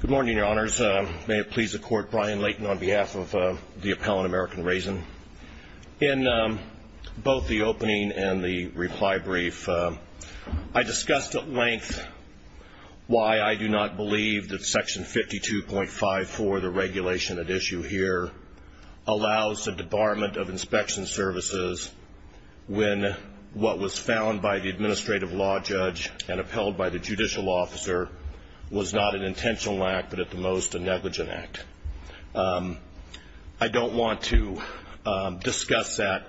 Good morning, your honors. May it please the court, Brian Layton on behalf of the Appellant American Raisian. In both the opening and the reply brief, I discussed at length why I do not believe that section 52.54, the regulation at issue here, allows the debarment of inspection services when what was found by the administrative law judge and upheld by the judicial officer was not an intentional act, but at the most a negligent act. I don't want to discuss that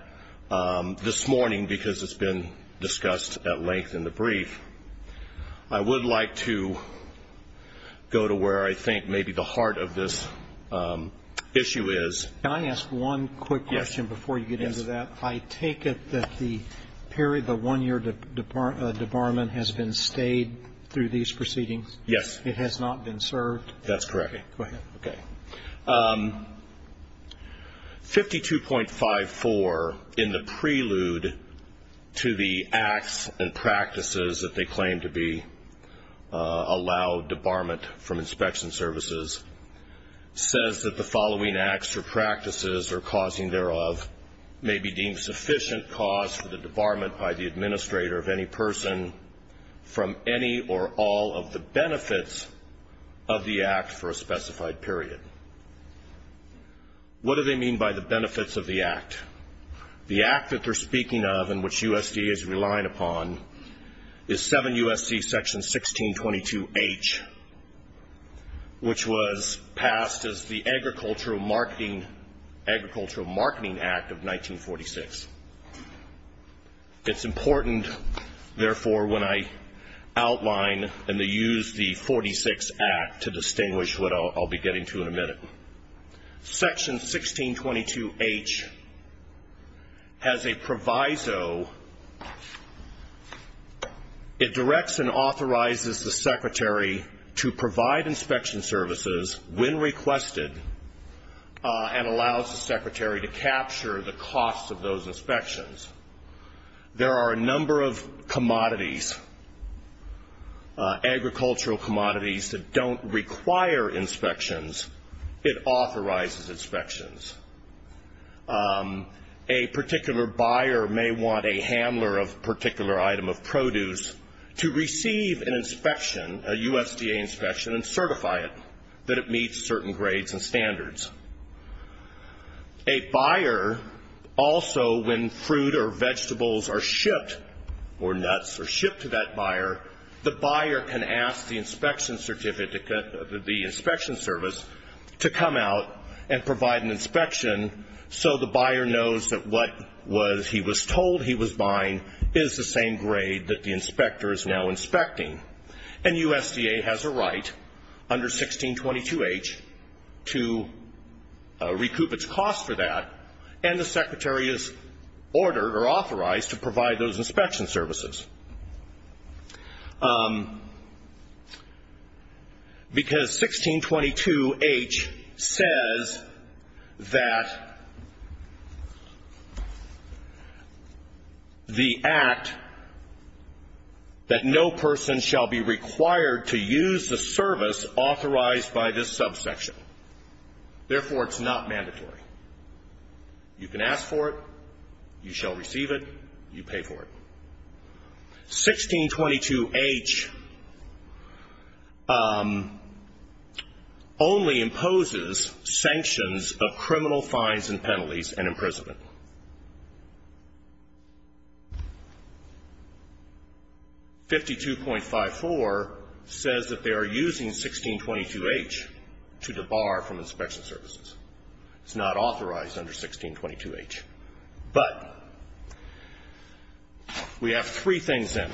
this morning because it's been discussed at length in the brief. I would like to go to where I think maybe the heart of this issue is. Can I ask one quick question before you get into that? I take it that the one-year debarment has been stayed through these proceedings? Yes. It has not been served? That's correct. Go ahead. Okay. 52.54 in the prelude to the acts and practices that they claim to be allowed debarment from inspection services says that the following acts or practices or causing thereof may be deemed sufficient cause for the debarment by the administrator of any person from any or all of the benefits of the act for a specified period. What do they mean by the benefits of the act? The act that they're speaking of and which USD is relying upon is 7 U.S.C. Section 1622H, which was passed as the Agricultural Marketing Act of 1946. It's important, therefore, when I outline and use the 46 Act to distinguish what I'll be getting to in a minute. Section authorizes the secretary to provide inspection services when requested and allows the secretary to capture the cost of those inspections. There are a number of commodities, agricultural commodities, that don't require inspections. It authorizes inspections. A particular buyer may want a handler of a particular item of produce to receive an inspection, a USDA inspection, and certify it, that it meets certain grades and standards. A buyer also, when fruit or vegetables are shipped or nuts are shipped to that buyer, the buyer can ask the inspection certificate, the inspection service, to come out and provide an inspection so the buyer knows that what he was told he was buying is the same grade that the inspector is now inspecting. And USDA has a right, under 1622H, to recoup its cost for that, and the secretary is ordered or authorized to provide those inspection services. Because 1622H says that the Act, that no person shall be required to use the service authorized by this subsection. Therefore, it's not mandatory. You can ask for it. You shall receive it. You pay for it. 1622H only imposes sanctions of criminal fines and penalties and imprisonment. 52.54 says that they are using 1622H to debar from inspection services. It's not authorized under 1622H. But we have three things in.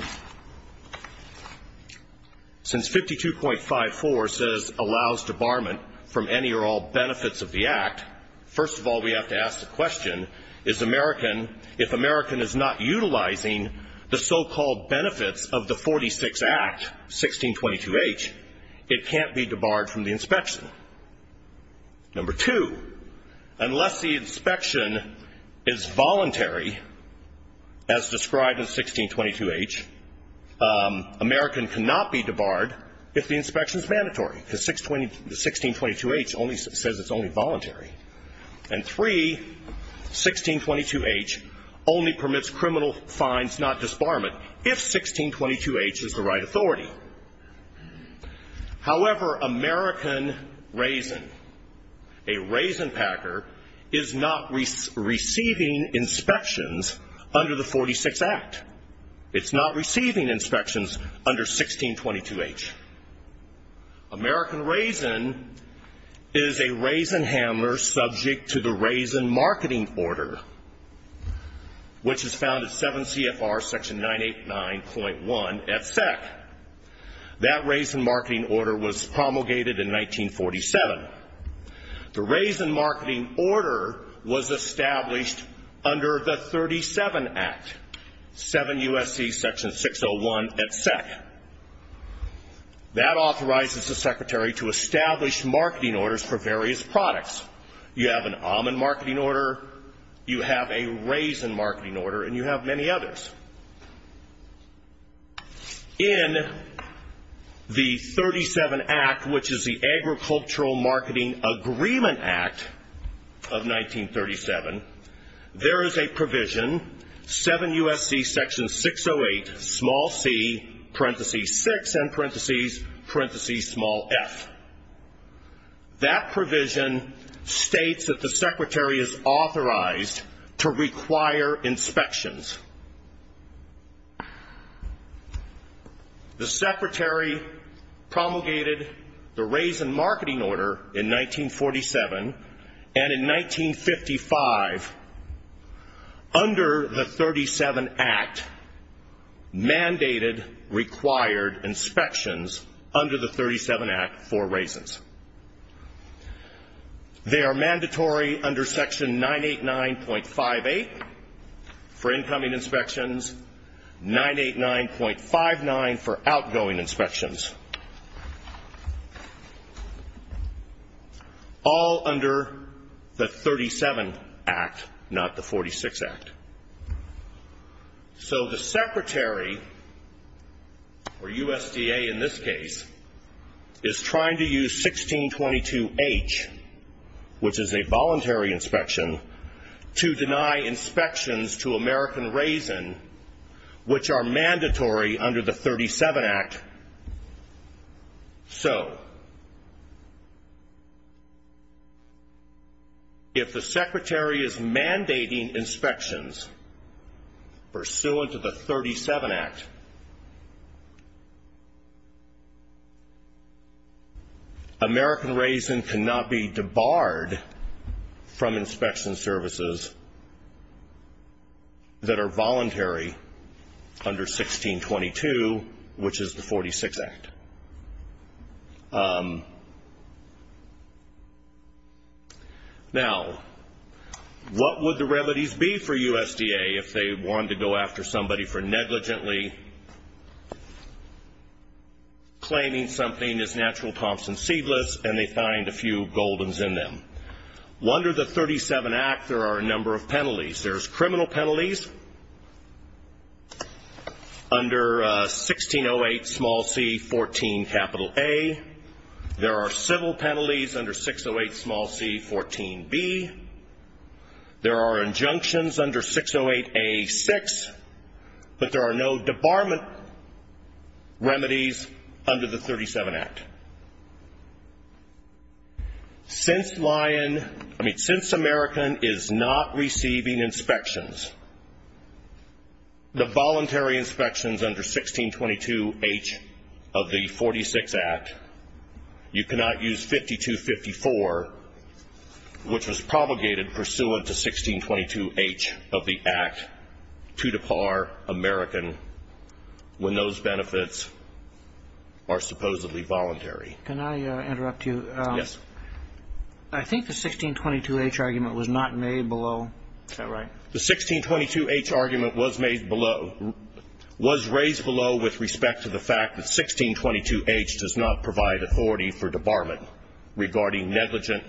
Since 52.54 says allows debarment from any or all benefits of the Act, first of all, we have to ask the question, is American, if American is not utilizing the so-called benefits of the 46 Act, 1622H, it Number two, unless the inspection is voluntary, as described in 1622H, American cannot be debarred if the inspection is mandatory. Because 1622H only says it's only voluntary. And three, 1622H only permits criminal fines, not disbarment, if 1622H is the right authority. However, American raisin, a raisin packer, is not receiving inspections under the 46 Act. It's not receiving inspections under 1622H. American raisin is a raisin CFR section 989.1 at SEC. That raisin marketing order was promulgated in 1947. The raisin marketing order was established under the 37 Act, 7 U.S.C. section 601 at SEC. That authorizes the secretary to establish marketing orders for various products. You have an almond marketing order, you have a raisin marketing order, and you have many others. In the 37 Act, which is the Agricultural Marketing Agreement Act of 1937, there is a provision, 7 U.S.C. section 608, small c, parenthesis 6, end parenthesis, parenthesis small f. That provision states that the secretary is The secretary promulgated the raisin marketing order in 1947, and in 1955, under the 37 Act, mandated required inspections under the 37 Act for raisins. They are mandatory under section 989.58 for incoming inspections, 989.59 for outgoing inspections. All under the 37 Act, not the 46 Act. So the secretary, or USDA in this case, is trying to use 1622H, which is a voluntary inspection, to deny inspections to American raisin, which are mandatory under the 37 Act. So, if the secretary is mandating inspections pursuant to the 37 Act, American raisin cannot be debarred from inspection services that are voluntary under 1622, which is the 46 Act. Now, what would the remedies be for USDA if they wanted to go after somebody for negligently claiming something is natural Thompson There are civil penalties under 608, small c, 14B. There are injunctions under 608A.6, but there are no debarment remedies under the 37 Act. Since I mean, since American is not receiving inspections, the voluntary inspections under 1622H of the 46 Act, you cannot use 5254, which was promulgated pursuant to 1622H of the Act, two to par American, when those benefits are supposedly voluntary. Can I interrupt you? Yes. I think the 1622H argument was not made below. Is that right? The 1622H argument was made below, was raised below with respect to the fact that 1622H does not provide authority for debarment regarding negligent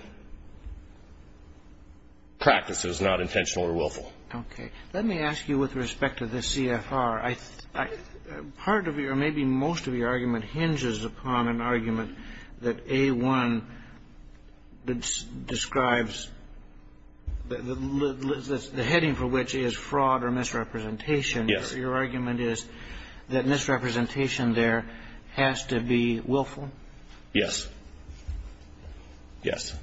practices, not intentional or willful. Okay. Let me ask you with respect to the CFR. Part of your, maybe most of your argument hinges upon an argument that A1 describes the heading for which is fraud or misrepresentation. Yes. Your argument is that misrepresentation there has to be willful? Yes. Yes.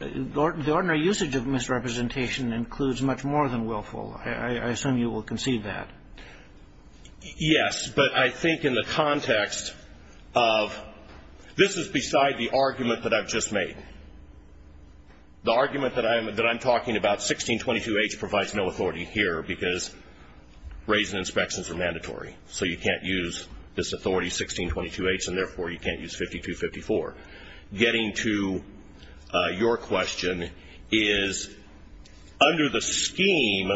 The ordinary usage of misrepresentation includes much more than willful. I assume you will concede that. Yes. But I think in the context of this is beside the argument that I've just made. The argument that I'm talking about, 1622H provides no authority here because raising inspections are mandatory. So you can't use this authority, 1622H, and therefore you can't use 5254. Getting to your question is under the scheme,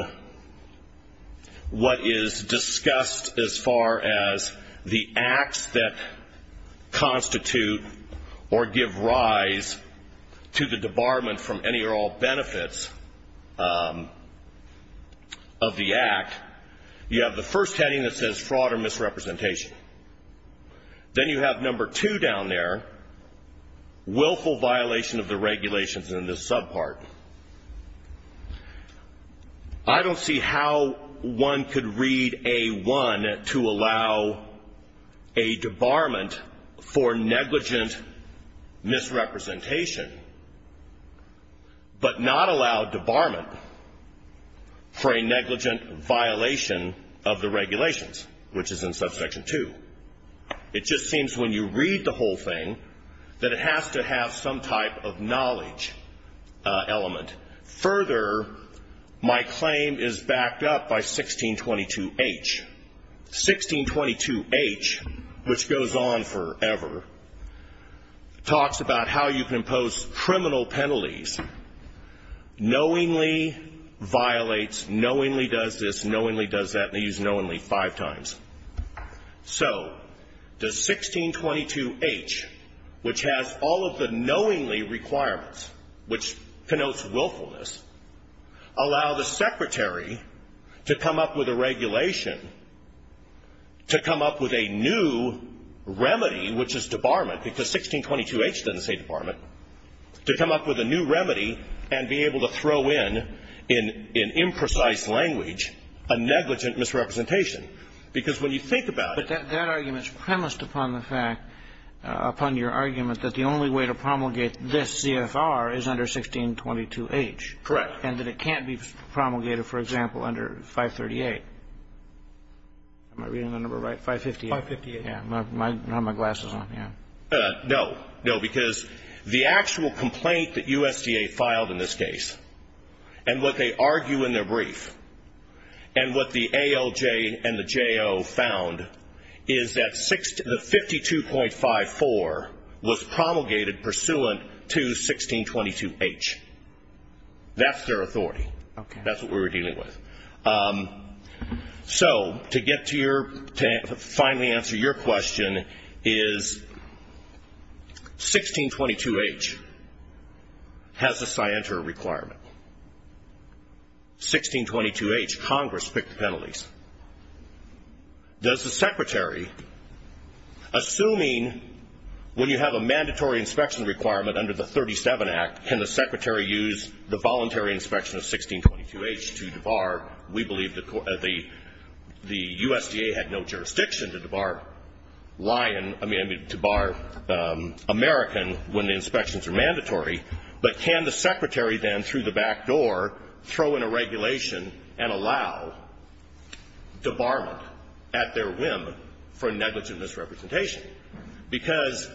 what is discussed as far as the acts that constitute or give rise to the debarment from any or all benefits of the act, you have the first heading that says fraud or misrepresentation. Then you have number two down there, willful violation of the regulations in this subpart. I don't see how one could read A1 to allow a debarment for negligent misrepresentation, but not allow debarment for a negligent violation of the regulations, which is in subsection 2. It just seems when you read the whole thing that it has to have some type of knowledge element. Further, my claim is backed up by 1622H. 1622H, which goes on forever, talks about how you can impose criminal penalties, knowingly violates, knowingly does this, knowingly does that, and they use knowingly five times. So does 1622H, which has all of the knowingly requirements, which connotes willfulness, allow the secretary to come up with a regulation to come up with a new remedy, which is debarment, because 1622H doesn't say debarment, to come up with a new remedy and be able to throw in, in imprecise language, a negligent misrepresentation? Because when you think about it. But that argument is premised upon the fact, upon your argument, that the only way to promulgate this CFR is under 1622H. Correct. And that it can't be promulgated, for example, under 538. Am I reading the number right? 558. 558. Yeah. I have my glasses on, yeah. No, because the actual complaint that USDA filed in this case, and what they argue in their brief, and what the ALJ and the JO found, is that 52.54 was promulgated pursuant to 1622H. That's their authority. Okay. That's what we were dealing with. So, to get to your, to finally answer your question, is 1622H has a scienter requirement. 1622H, Congress picked penalties. Does the Secretary, assuming when you have a mandatory inspection requirement under the 37 Act, can the Secretary use the voluntary inspection of 1622H to debar? We believe the USDA had no jurisdiction to debar American when the inspections are mandatory. But can the Secretary then, through the back door, throw in a regulation and allow? Debarment at their whim for negligent misrepresentation. Because,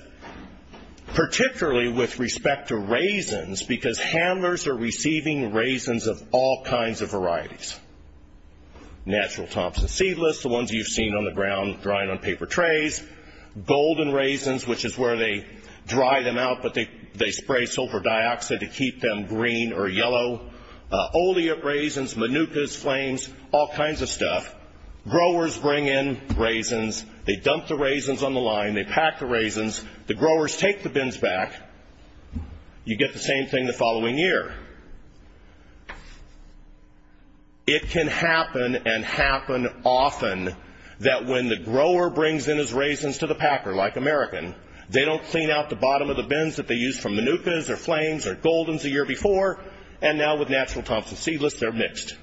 particularly with respect to raisins, because handlers are receiving raisins of all kinds of varieties. Natural Thompson seedless, the ones you've seen on the ground drying on paper trays. Golden raisins, which is where they dry them out, but they spray sulfur dioxide to keep them green or yellow. Olea raisins, manukas, flames, all kinds of stuff. Growers bring in raisins. They dump the raisins on the line. They pack the raisins. The growers take the bins back. You get the same thing the following year. It can happen and happen often that when the grower brings in his raisins to the packer, like American, they don't clean out the bottom of the bins that they used for manukas or flames or goldens the year before. And now with Natural Thompson seedless, they're mixed.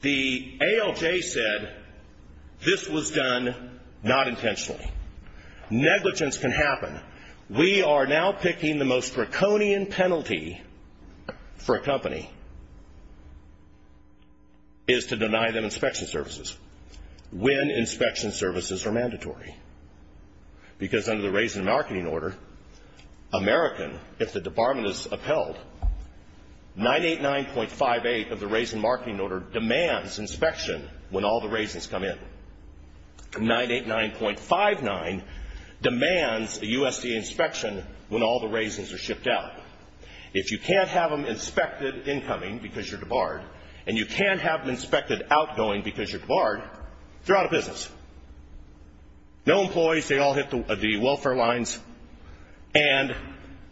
The ALJ said this was done not intentionally. Negligence can happen. We are now picking the most draconian penalty for a company is to deny them inspection services when inspection services are mandatory. Because under the Raisin Marketing Order, American, if the debarment is upheld, 989.58 of the Raisin Marketing Order demands inspection when all the raisins come in. 989.59 demands a USDA inspection when all the raisins are shipped out. If you can't have them inspected incoming because you're debarred, and you can't have them inspected outgoing because you're debarred, they're out of business. No employees, they all hit the welfare lines, and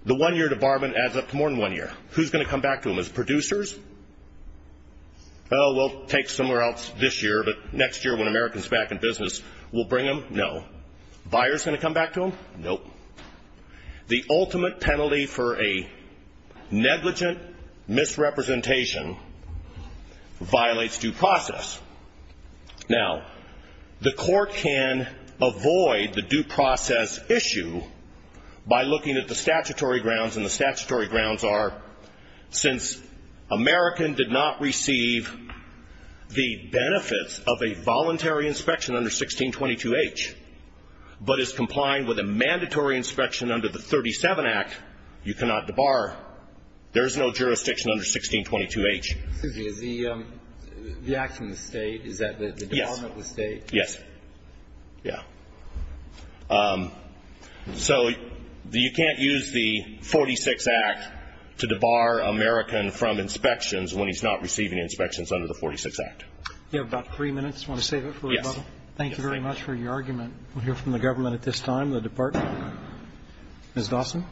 the one-year debarment adds up to more than one year. Who's going to come back to them? Is it producers? Oh, we'll take somewhere else this year, but next year when American's back in business, we'll bring them? No. Buyers going to come back to them? Nope. The ultimate penalty for a negligent misrepresentation violates due process. Now, the Court can avoid the due process issue by looking at the statutory grounds, and the statutory grounds are since American did not receive the benefits of a voluntary inspection under 1622H, but is complying with a mandatory inspection under the 37 Act, you cannot debar. There is no jurisdiction under 1622H. Excuse me. Is the act in the State, is that the debarment of the State? Yes. Yes. Yeah. So you can't use the 46 Act to debar American from inspections when he's not receiving inspections under the 46 Act. You have about three minutes. You want to save it for a moment? Yes. Thank you very much for your argument. We'll hear from the government at this time, the Department. Ms. Dawson.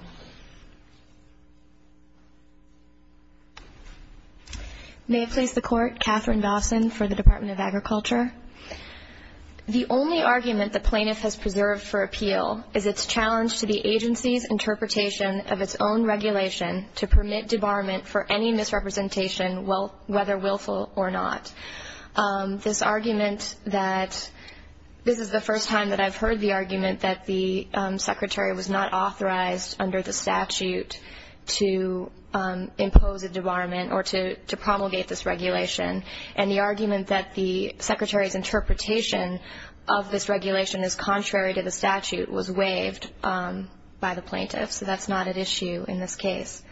May I please the Court? Catherine Dawson for the Department of Agriculture. The only argument the plaintiff has preserved for appeal is its challenge to the agency's interpretation of its own regulation to permit debarment for any misrepresentation, whether willful or not. This argument that this is the first time that I've heard the argument that the Secretary was not authorized under the statute to impose a debarment or to promulgate this regulation and the argument that the Secretary's interpretation of this regulation is contrary to the statute was waived by the plaintiff. So that's not at issue in this case.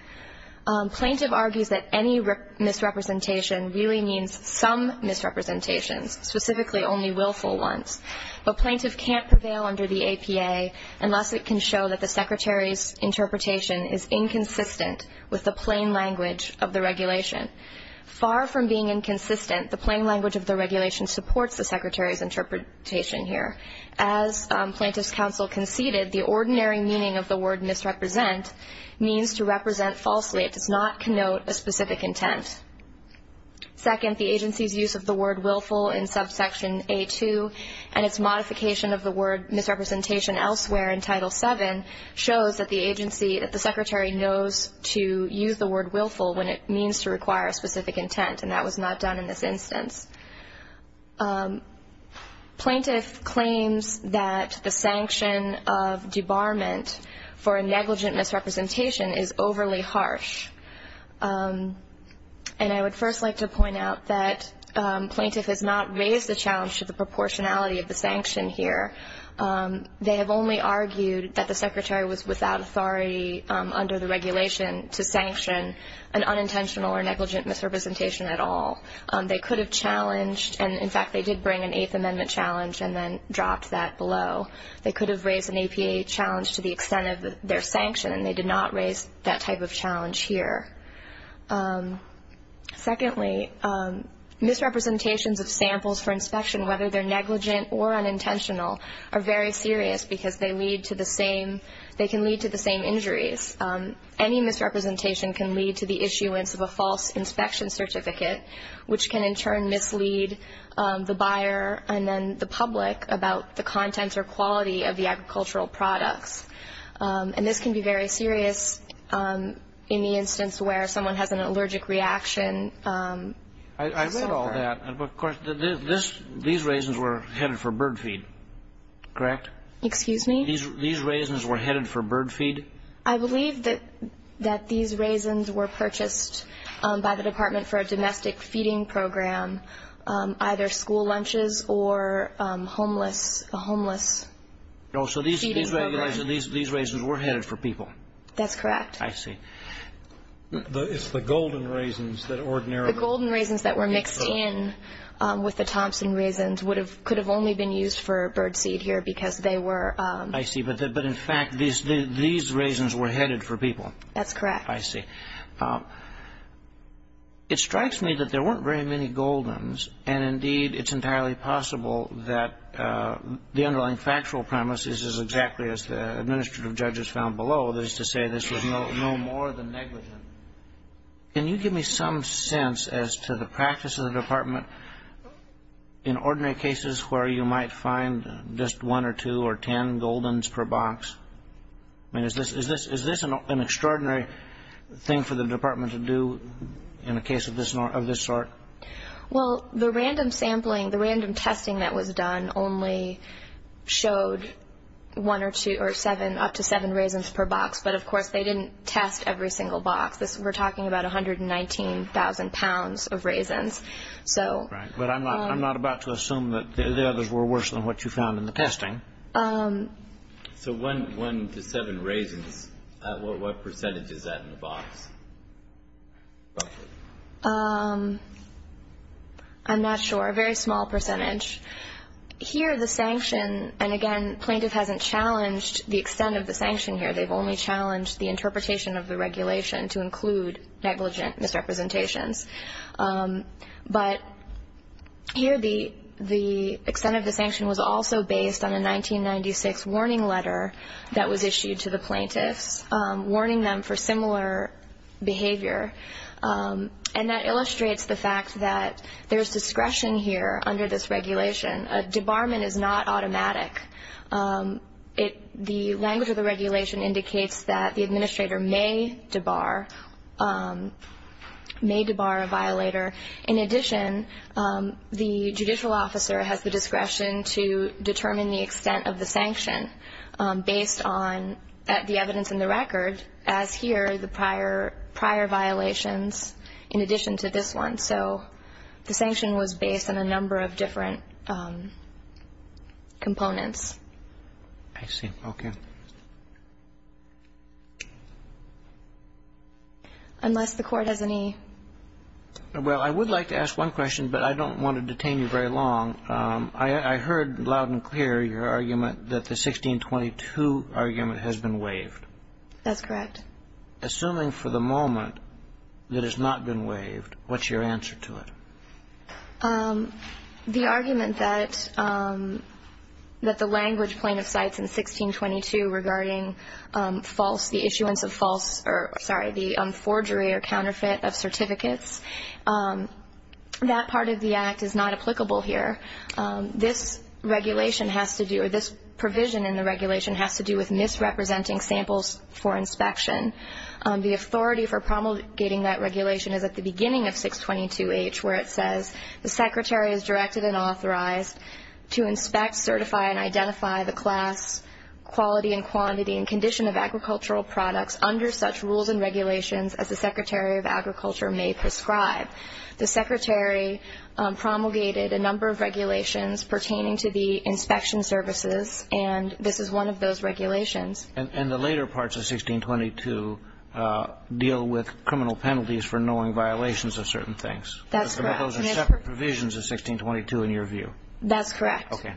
Plaintiff argues that any misrepresentation really means some misrepresentations, specifically only willful ones. But plaintiff can't prevail under the APA unless it can show that the Secretary's interpretation is inconsistent with the plain language of the regulation. Far from being inconsistent, the plain language of the regulation supports the Secretary's interpretation here. As plaintiff's counsel conceded, the ordinary meaning of the word misrepresent means to represent falsely. It does not connote a specific intent. Second, the agency's use of the word willful in subsection A2 and its modification of the word misrepresentation elsewhere in Title VII shows that the agency, that the Secretary knows to use the word willful when it means to require a specific intent, and that was not done in this instance. Plaintiff claims that the sanction of debarment for a negligent misrepresentation is overly harsh. And I would first like to point out that plaintiff has not raised the challenge to the proportionality of the sanction here. They have only argued that the Secretary was without authority under the regulation to sanction an unintentional or negligent misrepresentation at all. They could have challenged, and in fact they did bring an Eighth Amendment challenge and then dropped that below. They could have raised an APA challenge to the extent of their sanction, and they did not raise that type of challenge here. Secondly, misrepresentations of samples for inspection, whether they're negligent or unintentional, are very serious because they can lead to the same injuries. Any misrepresentation can lead to the issuance of a false inspection certificate, which can in turn mislead the buyer and then the public about the contents or quality of the agricultural products. And this can be very serious in the instance where someone has an allergic reaction. I read all that. Of course, these raisins were headed for bird feed, correct? Excuse me? These raisins were headed for bird feed? I believe that these raisins were purchased by the Department for a domestic feeding program, either school lunches or a homeless feeding program. Oh, so these raisins were headed for people? That's correct. I see. It's the golden raisins that ordinarily- The golden raisins that were mixed in with the Thompson raisins could have only been used for bird seed here because they were- I see. But in fact, these raisins were headed for people. That's correct. I see. It strikes me that there weren't very many goldens, and indeed it's entirely possible that the underlying factual premise is exactly as the administrative judges found below, that is to say this was no more than negligent. Can you give me some sense as to the practice of the Department in ordinary cases where you might find just one or two or ten goldens per box? I mean, is this an extraordinary thing for the Department to do in a case of this sort? Well, the random sampling, the random testing that was done, only showed one or two or seven, up to seven raisins per box, but of course they didn't test every single box. We're talking about 119,000 pounds of raisins. Right. But I'm not about to assume that the others were worse than what you found in the testing. So one to seven raisins, what percentage is that in the box? I'm not sure. A very small percentage. Here the sanction, and again, plaintiff hasn't challenged the extent of the sanction here. They've only challenged the interpretation of the regulation to include negligent misrepresentations. But here the extent of the sanction was also based on a 1996 warning letter that was issued to the plaintiffs, warning them for similar behavior, and that illustrates the fact that there's discretion here under this regulation. A debarment is not automatic. The language of the regulation indicates that the administrator may debar, may debar a violator. In addition, the judicial officer has the discretion to determine the extent of the sanction based on the evidence in the record, as here the prior violations in addition to this one. So the sanction was based on a number of different components. I see. Okay. Unless the Court has any. Well, I would like to ask one question, but I don't want to detain you very long. I heard loud and clear your argument that the 1622 argument has been waived. That's correct. Assuming for the moment that it's not been waived, what's your answer to it? The argument that the language plaintiff cites in 1622 regarding false, the issuance of false, or sorry, the forgery or counterfeit of certificates, that part of the Act is not applicable here. This regulation has to do, or this provision in the regulation has to do with misrepresenting samples for inspection. The authority for promulgating that regulation is at the beginning of 622H where it says, the Secretary is directed and authorized to inspect, certify, and identify the class, quality, and quantity and condition of agricultural products under such rules and regulations as the Secretary of Agriculture may prescribe. The Secretary promulgated a number of regulations pertaining to the inspection services, and this is one of those regulations. And the later parts of 1622 deal with criminal penalties for knowing violations of certain things. That's correct. Those are separate provisions of 1622 in your view. That's correct. Okay.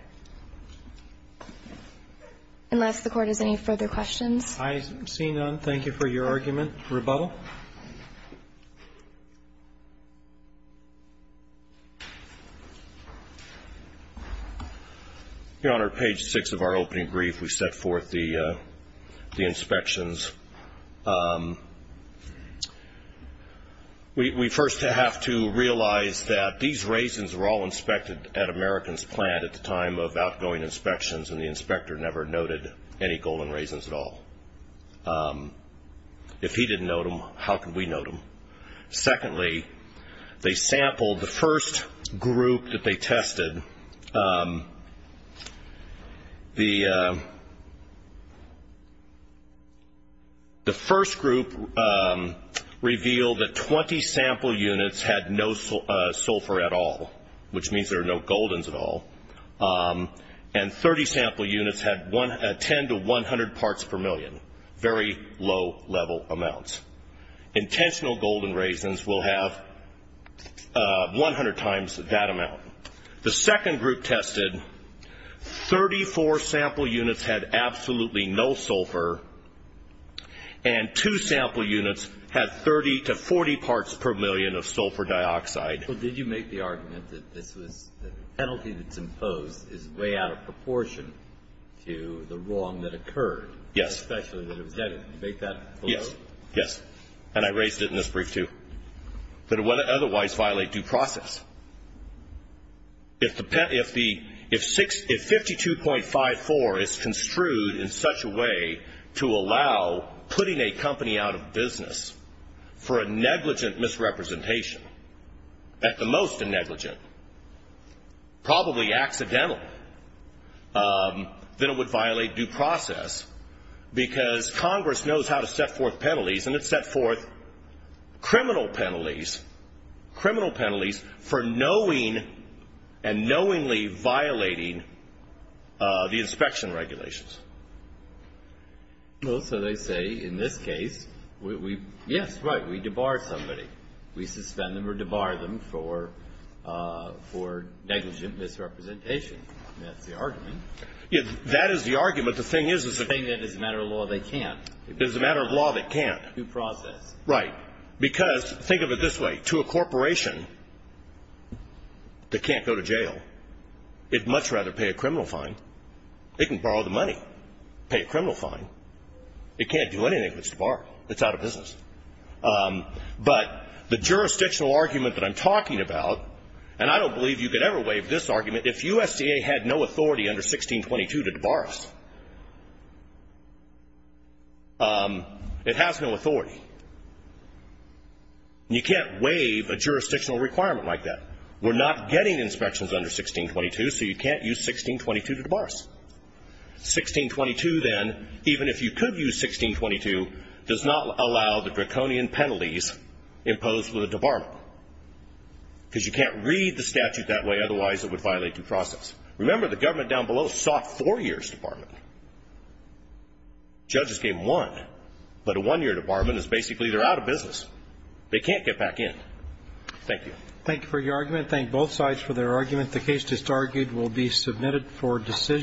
Unless the Court has any further questions. I see none. Thank you for your argument. Rebuttal. Rebuttal. Your Honor, page 6 of our opening brief, we set forth the inspections. We first have to realize that these raisins were all inspected at American's plant at the time of outgoing inspections, and the inspector never noted any golden raisins at all. If he didn't note them, how could we note them? Secondly, they sampled the first group that they tested. The first group revealed that 20 sample units had no sulfur at all, which means there are no goldens at all, and 30 sample units had 10 to 100 parts per million, very low level amounts. Intentional golden raisins will have 100 times that amount. The second group tested, 34 sample units had absolutely no sulfur, and two sample units had 30 to 40 parts per million of sulfur dioxide. Did you make the argument that the penalty that's imposed is way out of proportion to the wrong that occurred? Yes. Especially that it was headed. Did you make that? Yes. Yes. And I raised it in this brief, too, that it would otherwise violate due process. If 52.54 is construed in such a way to allow putting a company out of business for a negligent misrepresentation, at the most a negligent, probably accidental, then it would violate due process, because Congress knows how to set forth penalties, and it set forth criminal penalties for knowingly violating the inspection regulations. So they say in this case, yes, right, we debar somebody. We suspend them or debar them for negligent misrepresentation. That is the argument. But the thing is that it's a matter of law they can't. It's a matter of law they can't. Due process. Right. Because think of it this way. To a corporation that can't go to jail, it would much rather pay a criminal fine. It can borrow the money, pay a criminal fine. It can't do anything but debar. It's out of business. But the jurisdictional argument that I'm talking about, and I don't believe you could ever waive this argument, if USDA had no authority under 1622 to debar us, it has no authority. You can't waive a jurisdictional requirement like that. We're not getting inspections under 1622, so you can't use 1622 to debar us. 1622 then, even if you could use 1622, does not allow the draconian penalties imposed with a debarment, because you can't read the statute that way, otherwise it would violate due process. Remember, the government down below sought four years debarment. Judges gave them one. But a one-year debarment is basically they're out of business. They can't get back in. Thank you. Thank you for your argument. Thank both sides for their argument. The case just argued will be submitted for decision.